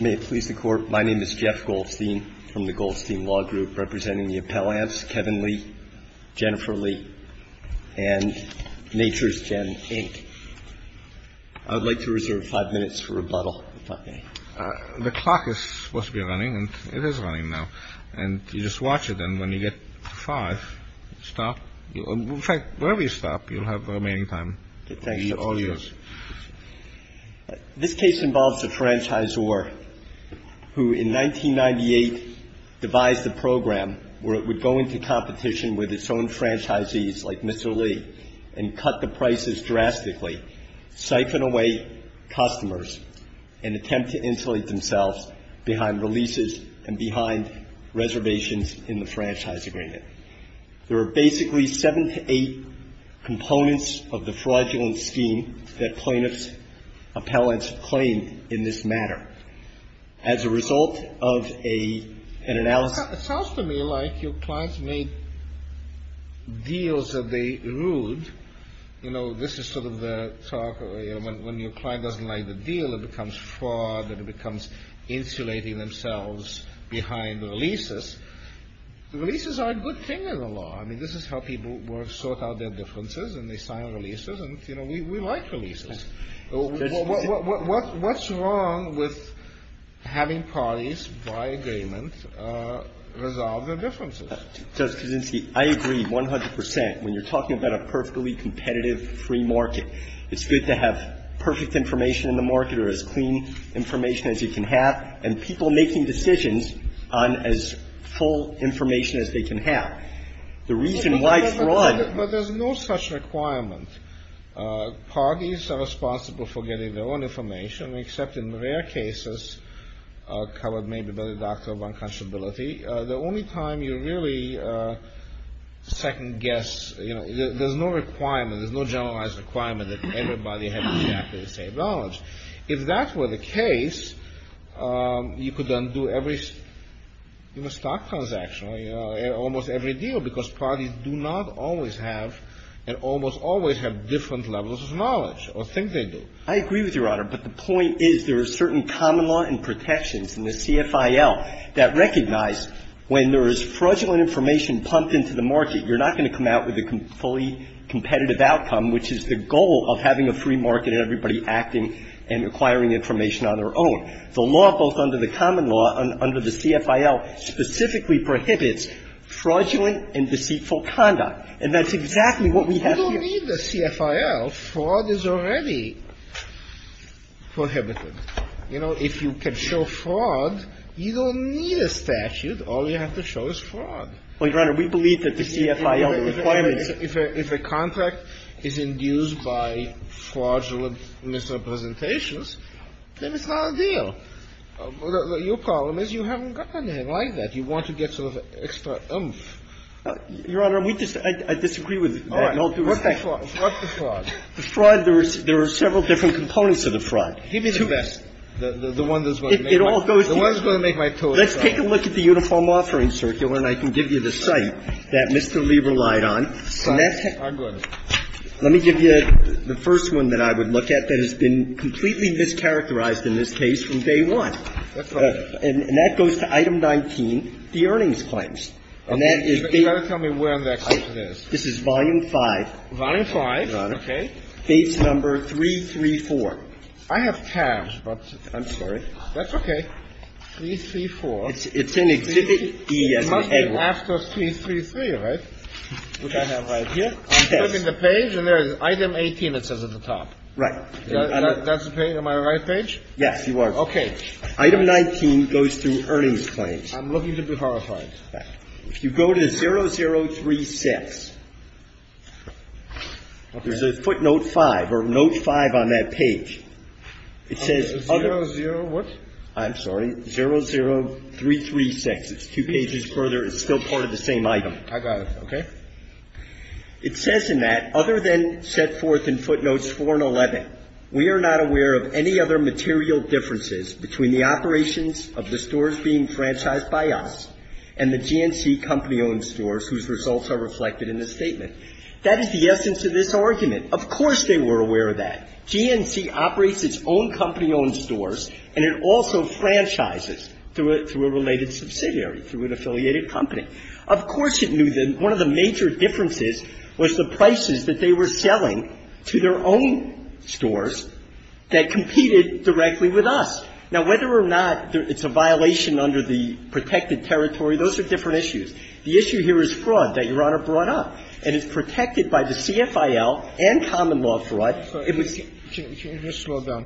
May it please the Court, my name is Jeff Goldstein from the Goldstein Law Group, representing the appellants Kevin Lee, Jennifer Lee, and Nature's Jen, Inc. I would like to reserve five minutes for rebuttal, if that's okay. The clock is supposed to be running, and it is running now. And you just watch it, and when you get to five, stop. In fact, wherever you stop, you'll have the remaining time to be all ears. This case involves a franchisor who, in 1998, devised a program where it would go into competition with its own franchisees, like Mr. Lee, and cut the prices drastically, siphon away customers, and attempt to insulate themselves behind releases and behind reservations in the franchise agreement. There are basically seven to eight components of the fraudulent scheme that plaintiffs' appellants claimed in this matter. As a result of an analysis of the fraudulent scheme, the plaintiffs' appellants claimed that the franchise agreement was a fraudulent scheme. I mean, this is how people sort out their differences, and they sign releases, and, you know, we like releases. What's wrong with having parties by agreement resolve their differences? Justice Kaczynski, I agree 100 percent. When you're talking about a perfectly competitive free market, it's good to have perfect information in the market or as clean information as you can have, and people making decisions on as full information as they can have. The reason why fraud… But there's no such requirement. Parties are responsible for getting their own information, except in rare cases covered maybe by the doctor of unconscionability. The only time you really second-guess, you know, there's no requirement, there's no generalized requirement that everybody have exactly the same knowledge. If that were the case, you could undo every stock transaction, almost every deal, because parties do not always have and almost always have different levels of knowledge or think they do. I agree with Your Honor, but the point is there are certain common law and protections in the CFIL that recognize when there is fraudulent information pumped into the market, you're not going to come out with a fully competitive outcome, which is the goal of having a free market and everybody acting and acquiring information on their own. The law, both under the common law and under the CFIL, specifically prohibits fraudulent and deceitful conduct. And that's exactly what we have here. You don't need the CFIL. Fraud is already prohibited. You know, if you can show fraud, you don't need a statute. All you have to show is fraud. Well, Your Honor, we believe that the CFIL requirements… If a contract is induced by fraudulent misrepresentations, then it's not a deal. Your problem is you haven't gotten anything like that. You want to get sort of extra oomph. Your Honor, we disagree with that. All right. What's the fraud? The fraud, there are several different components of the fraud. Give me the best. The one that's going to make my toes. Let's take a look at the Uniform Offering Circular, and I can give you the site that I'm going to. Let me give you the first one that I would look at that has been completely mischaracterized in this case from day one. That's right. And that goes to Item 19, the earnings claims. Okay. But you've got to tell me where that site is. This is Volume 5. Volume 5. Your Honor. Okay. Page number 334. I have cash, but I'm sorry. That's okay. 334. It's in Exhibit D as in Edward. It must be after 333, right? Okay. What do I have right here? I'm looking at the page, and there's Item 18 it says at the top. Right. That's the page? Am I on the right page? Yes, you are. Okay. Item 19 goes through earnings claims. I'm looking to be horrified. All right. If you go to 0036, there's a footnote 5 or note 5 on that page. It says other. 00 what? I'm sorry. 00336. It's two pages further. It's still part of the same item. I got it. Okay. It says in that other than set forth in footnotes 4 and 11, we are not aware of any other material differences between the operations of the stores being franchised by us and the GNC company-owned stores whose results are reflected in this statement. That is the essence of this argument. Of course they were aware of that. GNC operates its own company-owned stores, and it also franchises through a related subsidiary, through an affiliated company. Of course it knew that one of the major differences was the prices that they were selling to their own stores that competed directly with us. Now, whether or not it's a violation under the protected territory, those are different issues. The issue here is fraud that Your Honor brought up, and it's protected by the CFIL and common law fraud. It was the CFIL.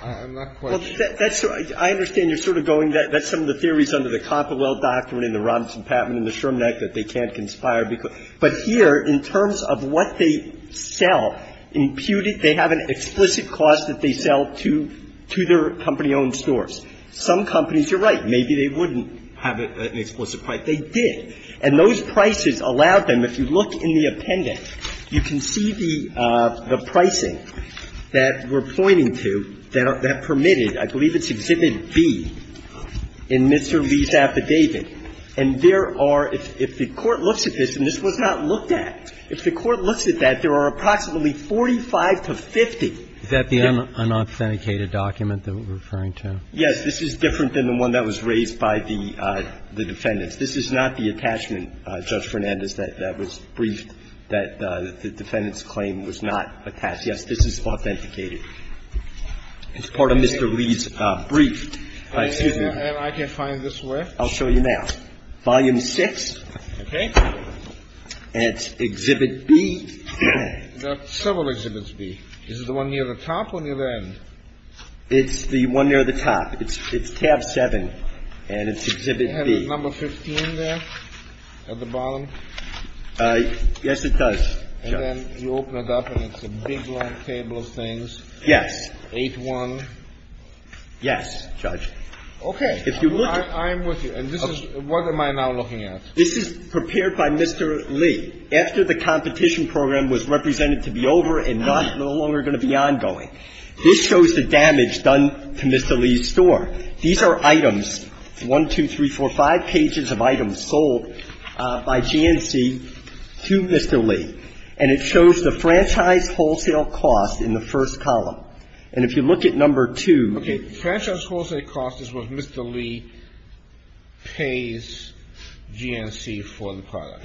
I understand you're sort of going, that's some of the theories under the Copperwell Doctrine and the Robinson-Patman and the Sherman Act that they can't conspire. But here, in terms of what they sell, imputed, they have an explicit cost that they do their company-owned stores. Some companies, you're right, maybe they wouldn't have an explicit price. They did. And those prices allowed them, if you look in the appendix, you can see the pricing that we're pointing to that permitted, I believe it's Exhibit B in Mr. Lee's affidavit. And there are, if the Court looks at this, and this was not looked at, if the Court looks at that, there are approximately 45 to 50. Is that the unauthenticated document that we're referring to? Yes. This is different than the one that was raised by the defendants. This is not the attachment, Judge Fernandez, that was briefed that the defendant's claim was not attached. Yes, this is authenticated. It's part of Mr. Lee's brief. Excuse me. And I can find this where? I'll show you now. Volume 6. Okay. And it's Exhibit B. There are several Exhibits B. Is it the one near the top or near the end? It's the one near the top. It's Tab 7, and it's Exhibit B. Does it have a number 15 there at the bottom? Yes, it does, Judge. And then you open it up, and it's a big, long table of things. Yes. 8-1. Yes, Judge. Okay. I'm with you. And this is what am I now looking at? This is prepared by Mr. Lee. This is after the competition program was represented to be over and not no longer going to be ongoing. This shows the damage done to Mr. Lee's store. These are items, 1, 2, 3, 4, 5 pages of items sold by GNC to Mr. Lee. And it shows the franchise wholesale cost in the first column. And if you look at number 2. Okay. Franchise wholesale cost is what Mr. Lee pays GNC for the product.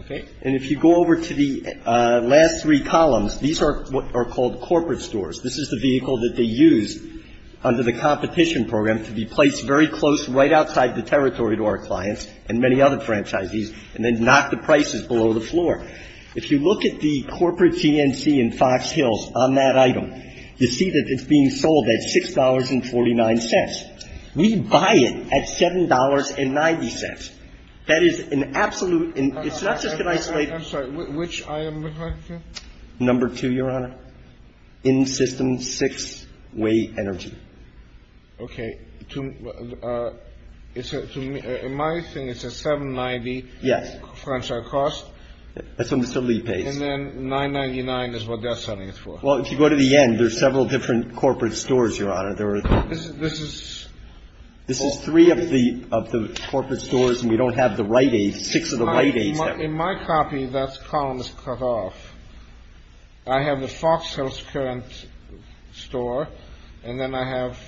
Okay. And if you go over to the last three columns, these are what are called corporate stores. This is the vehicle that they use under the competition program to be placed very close, right outside the territory to our clients and many other franchisees, and then knock the prices below the floor. If you look at the corporate GNC in Fox Hills on that item, you see that it's being sold at $6.49. We buy it at $7.90. That is an absolute. It's not just an isolated. I'm sorry. Which item are you referring to? Number 2, Your Honor. In-system six-way energy. Okay. To my thing, it's a $7.90. Yes. Franchise cost. That's what Mr. Lee pays. And then $9.99 is what they're selling it for. Well, if you go to the end, there's several different corporate stores, Your Honor. This is? This is three of the corporate stores, and we don't have the right age. Six of the right age. In my copy, that column is cut off. I have the Fox Hills current store, and then I have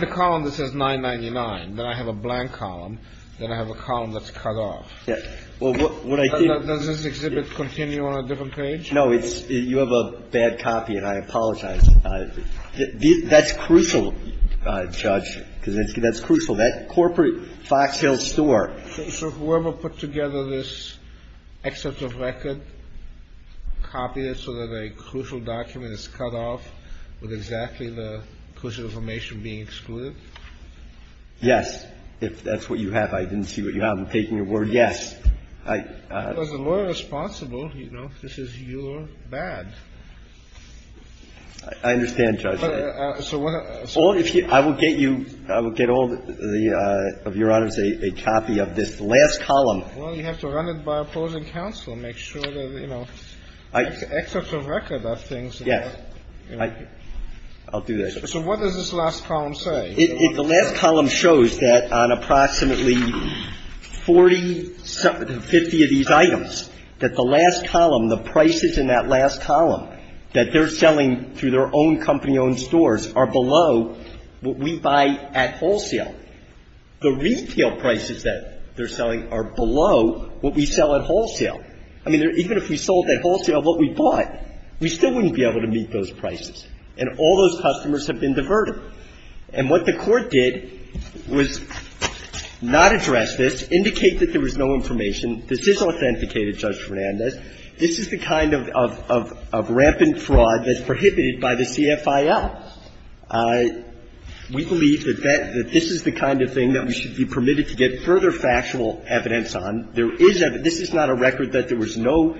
the column that says $9.99. Then I have a blank column. Then I have a column that's cut off. Does this exhibit continue on a different page? No, you have a bad copy, and I apologize. That's crucial, Judge Kaczynski. That's crucial. That corporate Fox Hills store. So whoever put together this excerpt of record copied it so that a crucial document is cut off with exactly the crucial information being excluded? Yes, if that's what you have. I didn't see what you have. I'm taking your word, yes. It was the lawyer responsible, you know. This is your bad. I understand, Judge. I will get you, I will get all of Your Honors a copy of this last column. Well, you have to run it by opposing counsel and make sure that, you know, the excerpt of record of things. Yes. I'll do that. So what does this last column say? The last column shows that on approximately 40, 50 of these items, that the last column, the prices in that last column that they're selling through their own company-owned stores are below what we buy at wholesale. The retail prices that they're selling are below what we sell at wholesale. I mean, even if we sold at wholesale what we bought, we still wouldn't be able to meet those prices. And all those customers have been diverted. And what the Court did was not address this, indicate that there was no information. This is authenticated, Judge Fernandez. This is the kind of rampant fraud that's prohibited by the CFIL. We believe that this is the kind of thing that we should be permitted to get further factual evidence on. There is evidence. This is not a record that there was no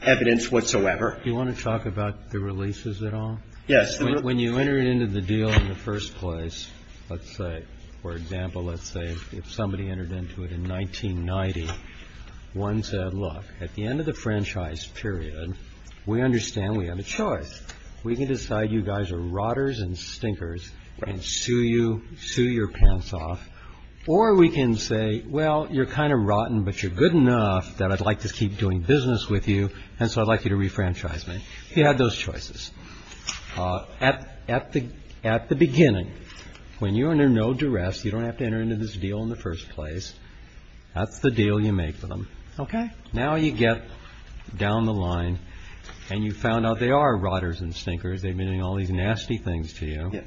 evidence whatsoever. Do you want to talk about the releases at all? Yes. When you enter into the deal in the first place, let's say, for example, let's say if somebody entered into it in 1990, one said, look, at the end of the franchise period, we understand we have a choice. We can decide you guys are rotters and stinkers and sue you, sue your pants off. Or we can say, well, you're kind of rotten, but you're good enough that I'd like to keep doing business with you. And so I'd like you to refranchise me. You have those choices. At the beginning, when you're under no duress, you don't have to enter into this deal in the first place. That's the deal you make with them. Okay. Now you get down the line and you found out they are rotters and stinkers. They've been doing all these nasty things to you. Yes.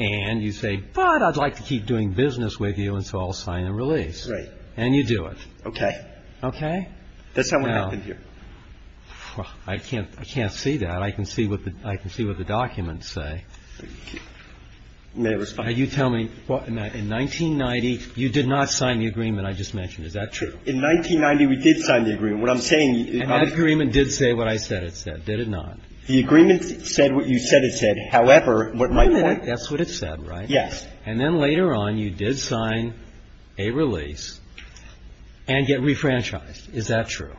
And you say, but I'd like to keep doing business with you, and so I'll sign a release. Right. And you do it. Okay. Okay? That's not what happened here. Well, I can't see that. I can see what the documents say. May I respond? Now, you tell me, in 1990, you did not sign the agreement I just mentioned. Is that true? In 1990, we did sign the agreement. What I'm saying is that the agreement did say what I said it said, did it not? The agreement said what you said it said. However, what my point is – That's what it said, right? Yes. And then later on, you did sign a release and get refranchised. Is that true?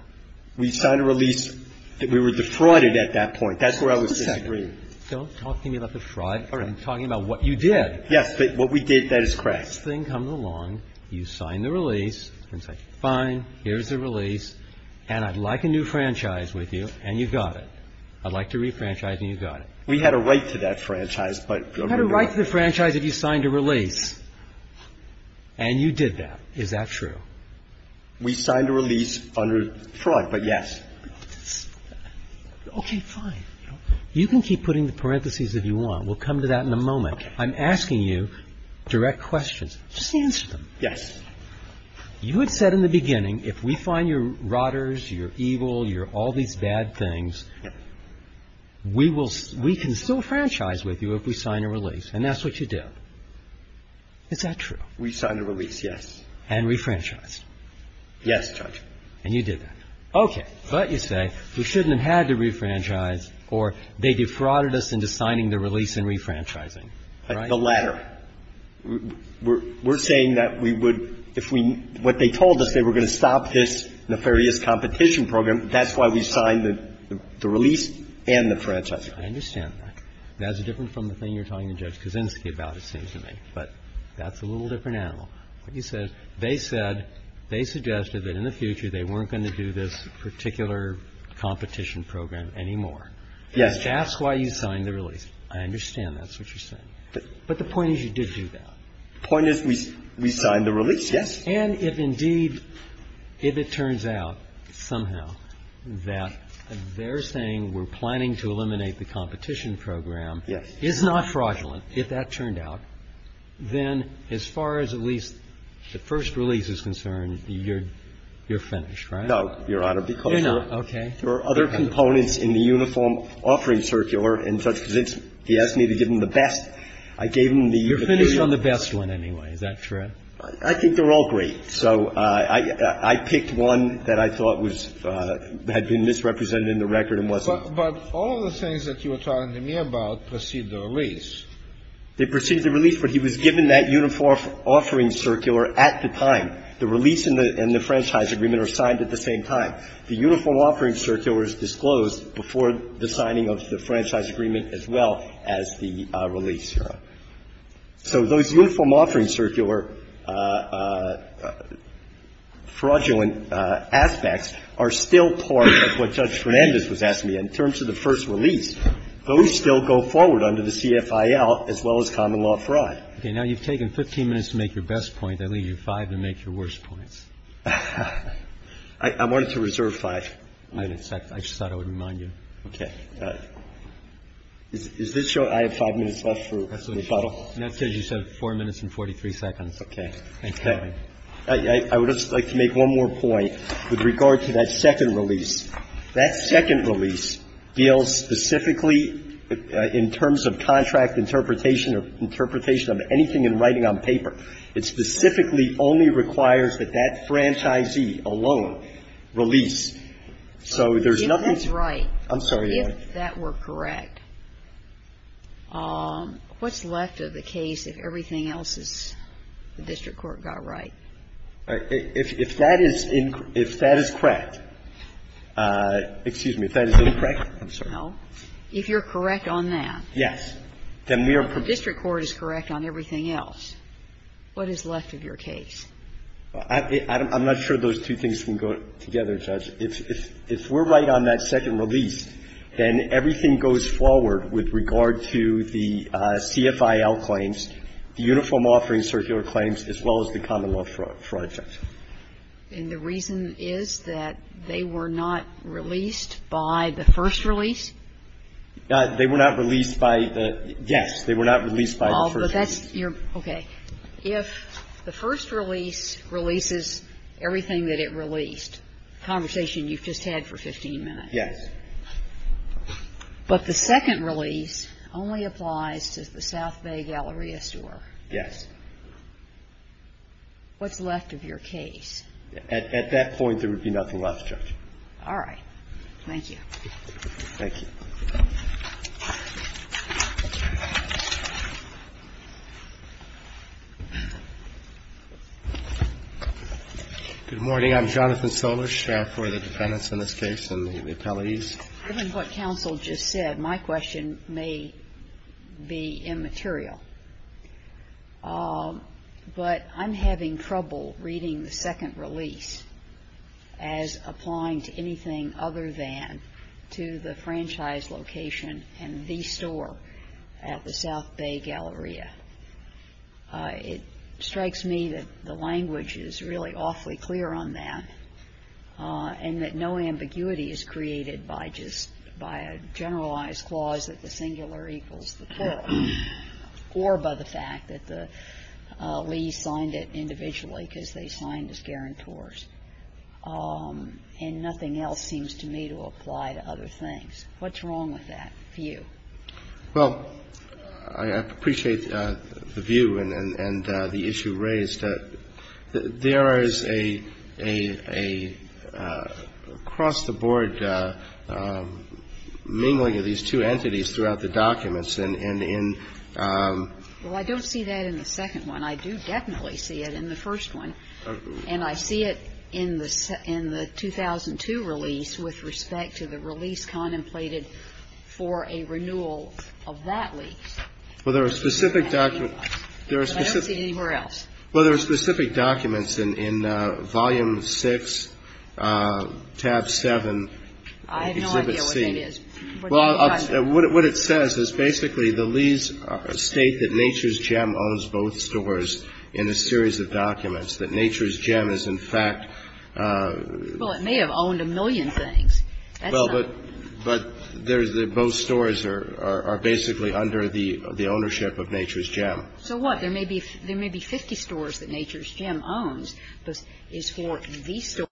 We signed a release. We were defrauded at that point. That's where I was disagreeing. Just a second. Don't talk to me about defrauded. All right. I'm talking about what you did. Yes, but what we did, that is correct. This thing comes along, you sign the release, and say, fine, here's the release, and I'd like a new franchise with you, and you got it. I'd like to refranchise, and you got it. We had a right to that franchise, but – You had a right to the franchise if you signed a release, and you did that. Is that true? We signed a release under fraud, but yes. Okay. Fine. You can keep putting the parentheses if you want. We'll come to that in a moment. I'm asking you direct questions. Just answer them. Yes. You had said in the beginning, if we find your rotters, your evil, your all these bad things, we will – we can still franchise with you if we sign a release, and that's what you did. Is that true? We signed a release, yes. And refranchised. Yes, Judge. And you did that. Okay. But you say we shouldn't have had to refranchise, or they defrauded us into signing the release and refranchising. Right? The latter. We're saying that we would – if we – what they told us, they were going to stop this nefarious competition program. That's why we signed the release and the franchising. I understand that. That's different from the thing you're telling Judge Kuczynski about, it seems to me. But that's a little different animal. What you said, they said, they suggested that in the future they weren't going to do this particular competition program anymore. Yes. That's why you signed the release. I understand that's what you're saying. But the point is you did do that. The point is we signed the release, yes. And if indeed, if it turns out somehow that they're saying we're planning to eliminate the competition program is not fraudulent, if that turned out, then as far as at least the first release is concerned, you're finished, right? No, Your Honor, because there are other components in the uniform offering circular. And Judge Kuczynski, he asked me to give him the best. I gave him the best. You're finished on the best one anyway. Is that true? I think they're all great. So I picked one that I thought was – had been misrepresented in the record and wasn't. But all of the things that you were telling me about precede the release. They precede the release, but he was given that uniform offering circular at the time. The release and the franchise agreement are signed at the same time. The uniform offering circular is disclosed before the signing of the franchise agreement as well as the release, Your Honor. So those uniform offering circular fraudulent aspects are still part of what Judge Fernandez was asking me. In terms of the first release, those still go forward under the CFIL as well as common law fraud. Okay. Now you've taken 15 minutes to make your best point. I'll leave you five to make your worst points. I wanted to reserve five minutes. I just thought I would remind you. Okay. Is this your – I have five minutes left for rebuttal. And that's because you said four minutes and 43 seconds. Okay. Thanks, Kevin. I would just like to make one more point with regard to that second release. That second release deals specifically in terms of contract interpretation or interpretation of anything in writing on paper. It specifically only requires that that franchisee alone release. So there's nothing to – You were right. I'm sorry, Your Honor. If that were correct. What's left of the case if everything else is – the district court got right? If that is incorrect – excuse me, if that is incorrect? I'm sorry. No. If you're correct on that. Yes. Then we are – The district court is correct on everything else. What is left of your case? I'm not sure those two things can go together, Judge. If we're right on that second release, then everything goes forward with regard to the CFIL claims, the Uniform Offering Circular Claims, as well as the common law fraud checks. And the reason is that they were not released by the first release? They were not released by the – yes. They were not released by the first release. Okay. If the first release releases everything that it released, the conversation you've just had for 15 minutes. Yes. But the second release only applies to the South Bay Galleria store. Yes. What's left of your case? At that point, there would be nothing left, Judge. All right. Thank you. Thank you. Good morning. I'm Jonathan Solisch for the defendants in this case and the appellees. Given what counsel just said, my question may be immaterial. But I'm having trouble reading the second release as applying to anything other than to the franchise location and the store at the South Bay Galleria. It strikes me that the language is really awfully clear on that and that no ambiguity is created by just – by a generalized clause that the singular equals the plural or by the fact that the Lee's signed it individually because they signed as guarantors. And nothing else seems to me to apply to other things. What's wrong with that view? Well, I appreciate the view and the issue raised. There is a cross-the-board mingling of these two entities throughout the documents and in the end – Well, I don't see that in the second one. I do definitely see it in the first one. And I see it in the 2002 release with respect to the release contemplated for a renewal of that lease. Well, there are specific documents. I don't see it anywhere else. Well, there are specific documents in Volume 6, Tab 7, Exhibit C. I have no idea what that is. Well, what it says is basically the Lee's state that Nature's Gem owns both stores in a series of documents, that Nature's Gem is in fact – Well, it may have owned a million things. That's not – Well, but there's – both stores are basically under the ownership of Nature's Gem. So what? There may be 50 stores that Nature's Gem owns, but it's for these stores.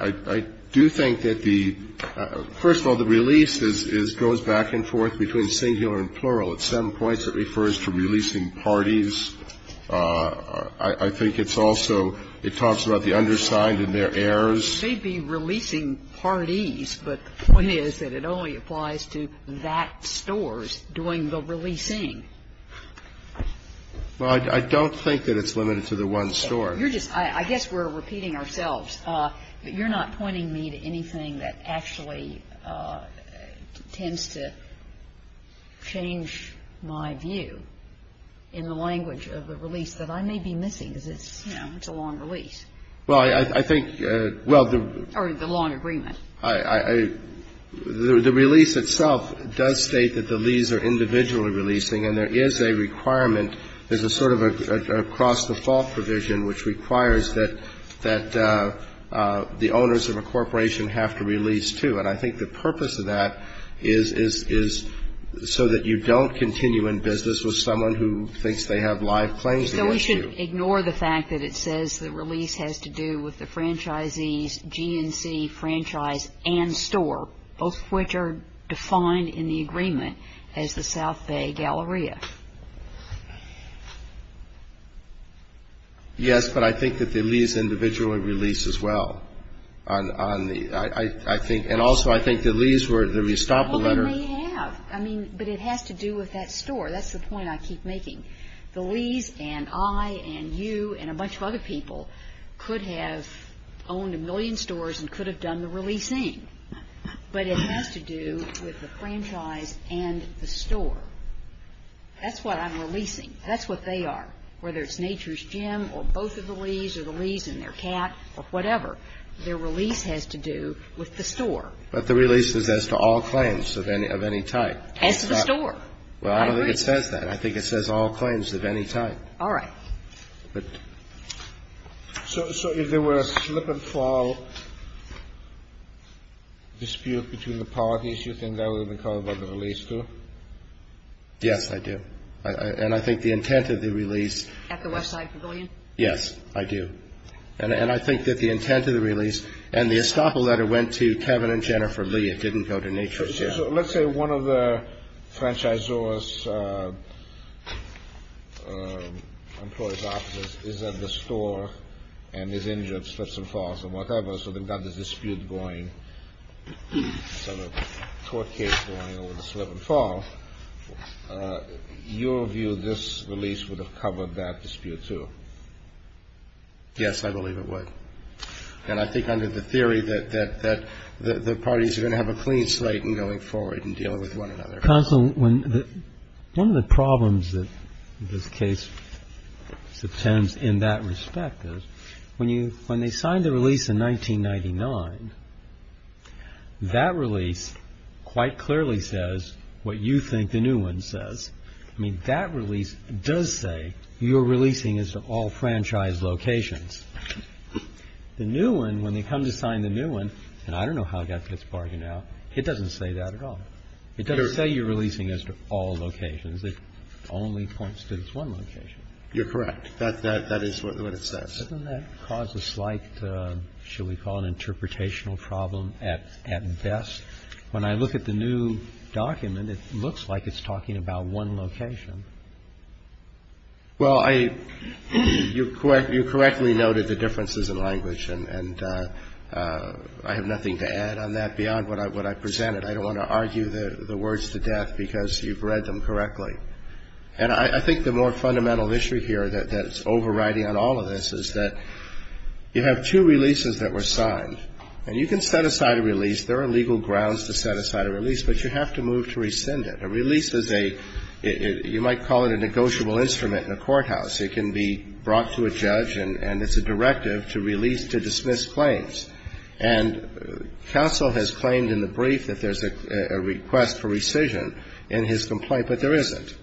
I do think that the – first of all, the release is – goes back and forth between singular and plural. At some points it refers to releasing parties. I think it's also – it talks about the undersigned and their heirs. It may be releasing parties, but the point is that it only applies to that store's doing the releasing. Well, I don't think that it's limited to the one store. You're just – I guess we're repeating ourselves. You're not pointing me to anything that actually tends to change my view in the language of the release that I may be missing, because it's, you know, it's a long release. Well, I think – well, the – Or the long agreement. I – the release itself does state that the lease are individually releasing, and there is a requirement. There's a sort of a cross-default provision which requires that the owners of a corporation have to release, too. And I think the purpose of that is so that you don't continue in business with someone who thinks they have live claims against you. So we should ignore the fact that it says the release has to do with the franchisees, GNC, franchise, and store, both of which are defined in the agreement as the South Bay Galleria. Yes, but I think that the lease individually released as well on the – I think – and also I think the lease were – let me stop the letter. Well, they may have. I mean, but it has to do with that store. That's the point I keep making. The lease and I and you and a bunch of other people could have owned a million stores and could have done the releasing. But it has to do with the franchise and the store. That's what I'm releasing. That's what they are. Whether it's Nature's Gym or both of the lease or the lease and their cat or whatever, their release has to do with the store. But the release is as to all claims of any type. As to the store. I agree. Well, I don't think it says that. I think it says all claims of any type. All right. So if there were a slip and fall dispute between the parties, you think that would have been covered by the release, too? Yes, I do. And I think the intent of the release – At the Westside Pavilion? Yes, I do. And I think that the intent of the release and the estoppel letter went to Kevin and Jennifer Lee. It didn't go to Nature's Gym. Let's say one of the franchisor's employee's offices is at the store and is injured, slips and falls and whatever, so they've got this dispute going, sort of court case going over the slip and fall. Your view, this release would have covered that dispute, too? Yes, I believe it would. And I think under the theory that the parties are going to have a clean slate in going forward and dealing with one another. Counsel, one of the problems that this case presents in that respect is when they signed the release in 1999, that release quite clearly says what you think the new one says. I mean, that release does say your releasing is to all franchise locations. The new one, when they come to sign the new one, and I don't know how that gets bargained out, it doesn't say that at all. It doesn't say you're releasing this to all locations. It only points to this one location. You're correct. That is what it says. Doesn't that cause a slight, shall we call it an interpretational problem at best? When I look at the new document, it looks like it's talking about one location. Well, you correctly noted the differences in language, and I have nothing to add on that beyond what I presented. I don't want to argue the words to death because you've read them correctly. And I think the more fundamental issue here that's overriding on all of this is that you have two releases that were signed, and you can set aside a release. There are legal grounds to set aside a release, but you have to move to rescind it. A release is a, you might call it a negotiable instrument in a courthouse. It can be brought to a judge, and it's a directive to release to dismiss claims. And counsel has claimed in the brief that there's a request for rescission in his complaint, but there isn't.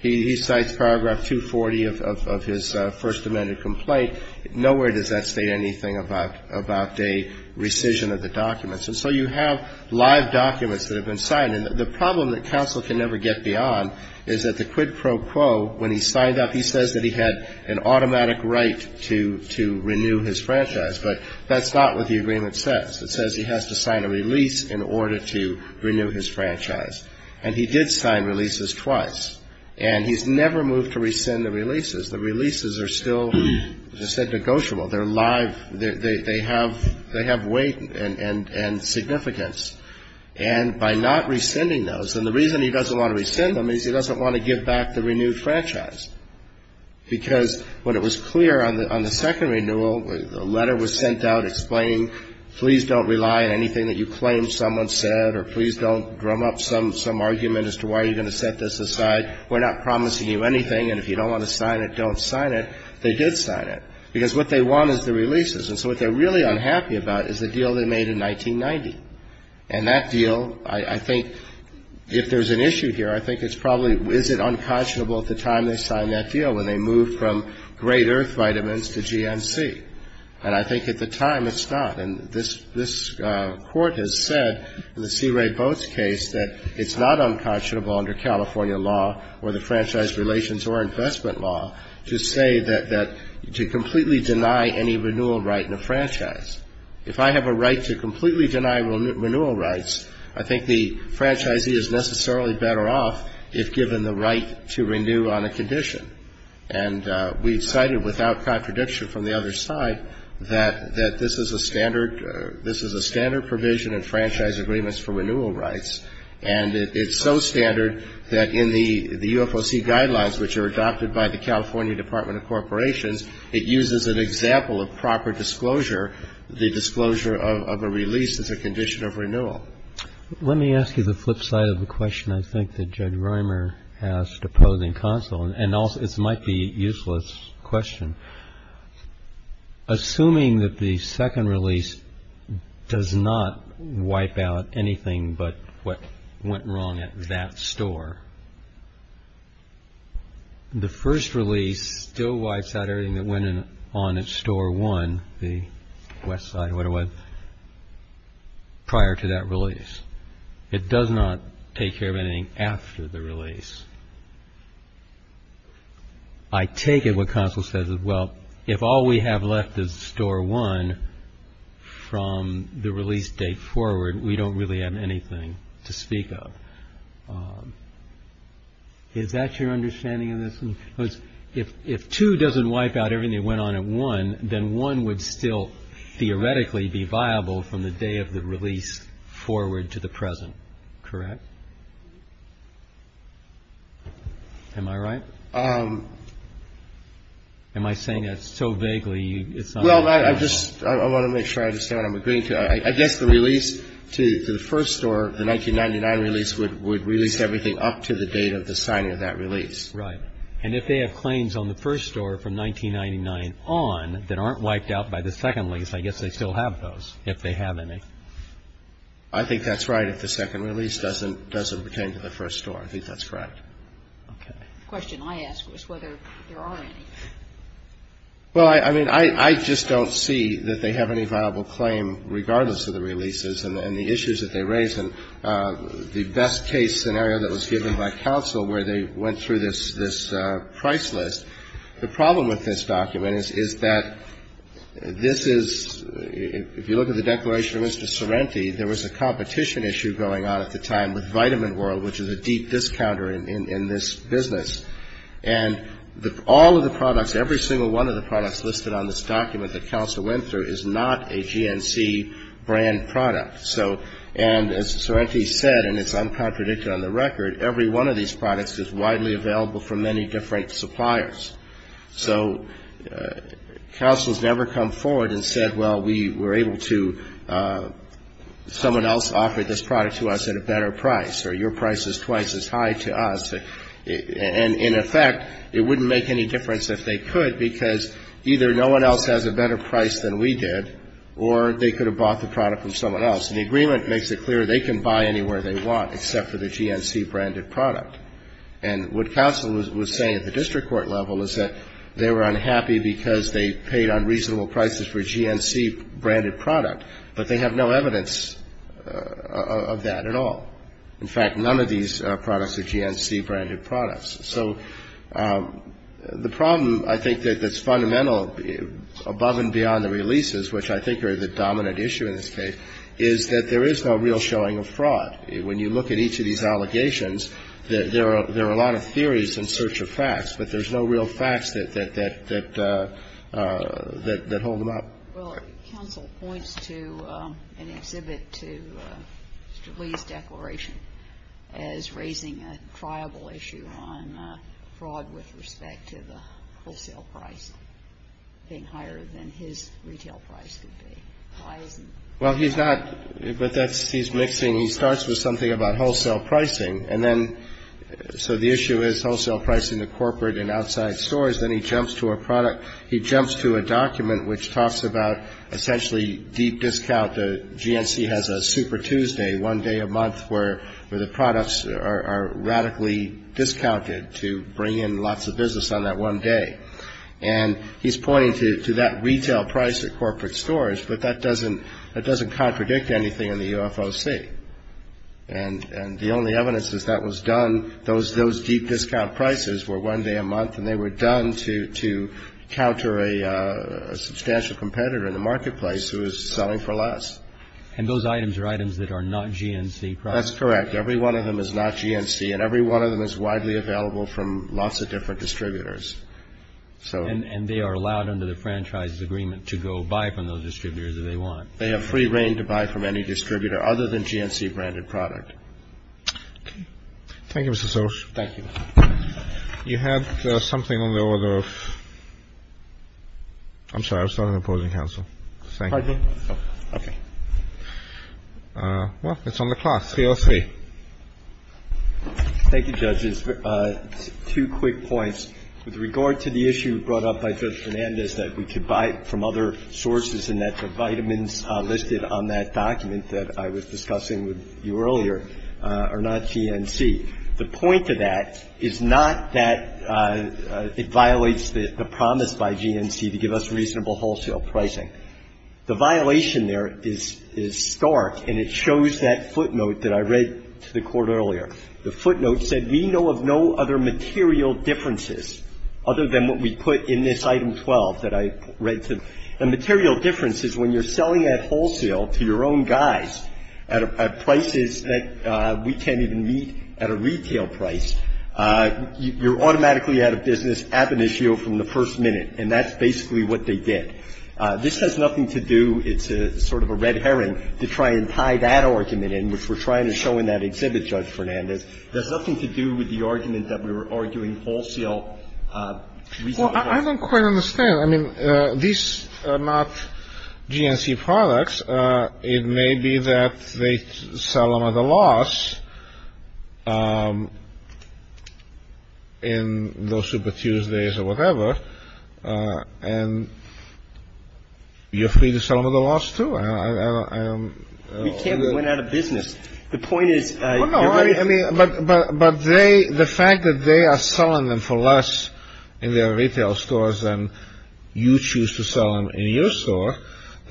He cites paragraph 240 of his First Amendment complaint. Nowhere does that state anything about a rescission of the documents. And so you have live documents that have been signed. And the problem that counsel can never get beyond is that the quid pro quo, when he signed up, he says that he had an automatic right to renew his franchise. But that's not what the agreement says. It says he has to sign a release in order to renew his franchise. And he did sign releases twice, and he's never moved to rescind the releases. The releases are still, as I said, negotiable. They're live. They have weight and significance. And by not rescinding those, and the reason he doesn't want to rescind them is he doesn't want to give back the renewed franchise. Because when it was clear on the second renewal, the letter was sent out explaining, please don't rely on anything that you claim someone said, or please don't drum up some argument as to why you're going to set this aside. We're not promising you anything, and if you don't want to sign it, don't sign it. They did sign it. Because what they want is the releases. And so what they're really unhappy about is the deal they made in 1990. And that deal, I think, if there's an issue here, I think it's probably, is it unconscionable at the time they signed that deal when they moved from Great Earth Vitamins to GNC? And I think at the time it's not. And this court has said in the C. Ray Boats case that it's not unconscionable under California law or the franchise relations or investment law to say that, to completely deny any renewal right in a franchise. If I have a right to completely deny renewal rights, I think the franchisee is necessarily better off if given the right to renew on a condition. And we've cited, without contradiction from the other side, that this is a standard provision in franchise agreements for renewal rights. And it's so standard that in the U.F.O.C. guidelines, which are adopted by the California Department of Corporations, it uses an example of proper disclosure, the disclosure of a release as a condition of renewal. Let me ask you the flip side of the question, I think, that Judge Reimer asked opposing counsel. And it might be a useless question. Assuming that the second release does not wipe out anything but what went wrong at that store, the first release still wipes out everything that went on at store one, the west side, prior to that release. It does not take care of anything after the release. I take it what counsel says is, well, if all we have left is store one from the release date forward, we don't really have anything to speak of. Is that your understanding of this? If two doesn't wipe out everything that went on at one, then one would still theoretically be viable from the day of the release forward to the present, correct? Am I right? Am I saying that so vaguely, it's not? Well, I just want to make sure I understand what I'm agreeing to. I guess the release to the first store, the 1999 release, would release everything up to the date of the signing of that release. Right. And if they have claims on the first store from 1999 on that aren't wiped out by the second lease, I guess they still have those, if they have any. I think that's right, if the second release doesn't pertain to the first store. I think that's correct. Okay. The question I ask is whether there are any. Well, I mean, I just don't see that they have any viable claim, regardless of the releases and the issues that they raise. And the best case scenario that was given by counsel where they went through this price list, the problem with this document is that this is, if you look at the declaration of Mr. Sorrenti, there was a competition issue going on at the time with Vitamin World, which is a deep discounter in this business. And all of the products, every single one of the products listed on this document that counsel went through is not a GNC brand product. And as Sorrenti said, and it's uncontradicted on the record, every one of these products is widely available from many different suppliers. So counsel has never come forward and said, well, we were able to, someone else offered this product to us at a better price, or your price is twice as high to us. And in effect, it wouldn't make any difference if they could, because either no one else has a better price than we did, or they could have bought the product from someone else. And the agreement makes it clear they can buy anywhere they want except for the GNC-branded product. And what counsel was saying at the district court level is that they were unhappy because they paid unreasonable prices for a GNC-branded product, but they have no evidence of that at all. In fact, none of these products are GNC-branded products. So the problem, I think, that's fundamental above and beyond the releases, which I think are the dominant issue in this case, is that there is no real showing of fraud. When you look at each of these allegations, there are a lot of theories in search of facts, but there's no real facts that hold them up. Well, counsel points to an exhibit to Mr. Lee's declaration as raising a triable issue on fraud with respect to the wholesale price being higher than his retail price would be. Why is that? Well, he's not. But that's he's mixing. He starts with something about wholesale pricing. And then so the issue is wholesale pricing to corporate and outside stores. Then he jumps to a product. He jumps to a document which talks about essentially deep discount. GNC has a super Tuesday, one day a month, where the products are radically discounted to bring in lots of business on that one day. And he's pointing to that retail price at corporate stores. But that doesn't contradict anything in the UFOC. And the only evidence is that was done, those deep discount prices were one day a month, and they were done to counter a substantial competitor in the marketplace who was selling for less. And those items are items that are not GNC products? That's correct. Every one of them is not GNC. And every one of them is widely available from lots of different distributors. And they are allowed under the franchise's agreement to go buy from those distributors if they want? They have free reign to buy from any distributor other than GNC branded product. Thank you, Mr. Searles. Thank you. You had something on the order of ‑‑ I'm sorry. I was talking to the opposing counsel. Thank you. Pardon me. Okay. Well, it's on the class. 303. Thank you, judges. Two quick points. With regard to the issue brought up by Judge Fernandez that we could buy from other sources and that the vitamins listed on that document that I was discussing with you earlier are not GNC. The point of that is not that it violates the promise by GNC to give us reasonable wholesale pricing. The violation there is stark, and it shows that footnote that I read to the Court earlier. The footnote said, We know of no other material differences other than what we put in this Item 12 that I read to the Court. And material differences, when you're selling at wholesale to your own guys at prices that we can't even meet at a retail price, you're automatically out of business ab initio from the first minute. And that's basically what they did. This has nothing to do — it's sort of a red herring to try and tie that argument in, which we're trying to show in that exhibit, Judge Fernandez. It has nothing to do with the argument that we were arguing wholesale reasonably. Well, I don't quite understand. I mean, these are not GNC products. It may be that they sell them at a loss in those Super Tuesdays or whatever. And you're free to sell them at a loss, too. We can't be going out of business. The point is — No, no. I mean, but the fact that they are selling them for less in their retail stores than you choose to sell them in your store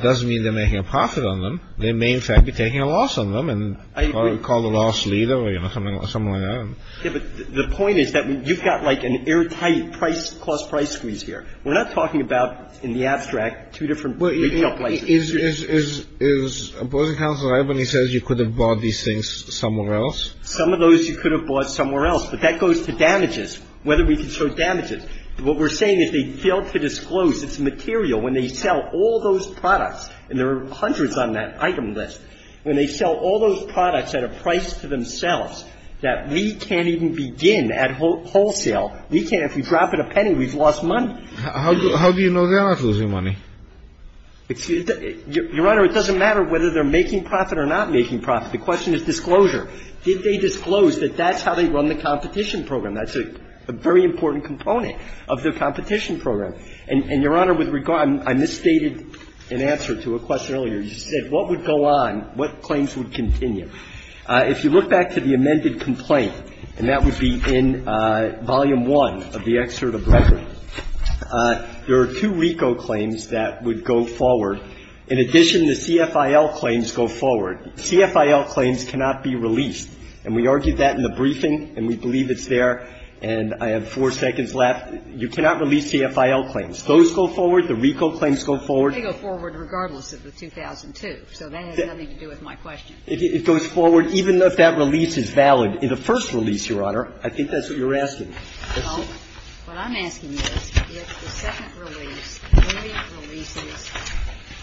doesn't mean they're making a profit on them. They may, in fact, be taking a loss on them and probably be called a loss leader or something like that. But the point is that you've got, like, an airtight price — cost-price squeeze here. We're not talking about, in the abstract, two different retail places. Well, is — is — is opposing counsel Irvine says you could have bought these things somewhere else? Some of those you could have bought somewhere else. But that goes to damages, whether we can show damages. What we're saying is they failed to disclose. It's material. When they sell all those products, and there are hundreds on that item list, when they sell all those products at a price to themselves that we can't even begin at wholesale, we can't. If we drop it a penny, we've lost money. How do you know they're not losing money? Your Honor, it doesn't matter whether they're making profit or not making profit. The question is disclosure. Did they disclose that that's how they run the competition program? That's a very important component of the competition program. And, Your Honor, with regard — I misstated an answer to a question earlier. You said what would go on, what claims would continue. If you look back to the amended complaint, and that would be in Volume I of the excerpt of record, there are two RICO claims that would go forward. In addition, the CFIL claims go forward. CFIL claims cannot be released. And we argued that in the briefing, and we believe it's there. And I have four seconds left. You cannot release CFIL claims. Those go forward. The RICO claims go forward. They go forward regardless of the 2002. So that has nothing to do with my question. It goes forward even if that release is valid. In the first release, Your Honor, I think that's what you're asking. Well, what I'm asking is if the second release only releases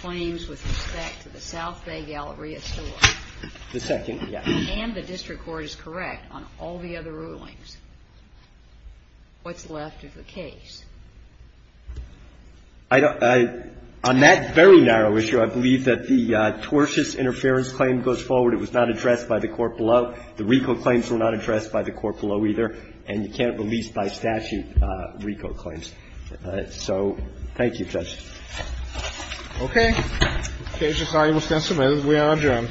claims with respect to the South Bay Galleria store. The second, yes. And the district court is correct on all the other rulings. What's left of the case? On that very narrow issue, I believe that the tortious interference claim goes forward. It was not addressed by the court below. The RICO claims were not addressed by the court below, either. And you can't release by statute RICO claims. So thank you, Judge. Okay. The case is now able to stand submitted. We are adjourned.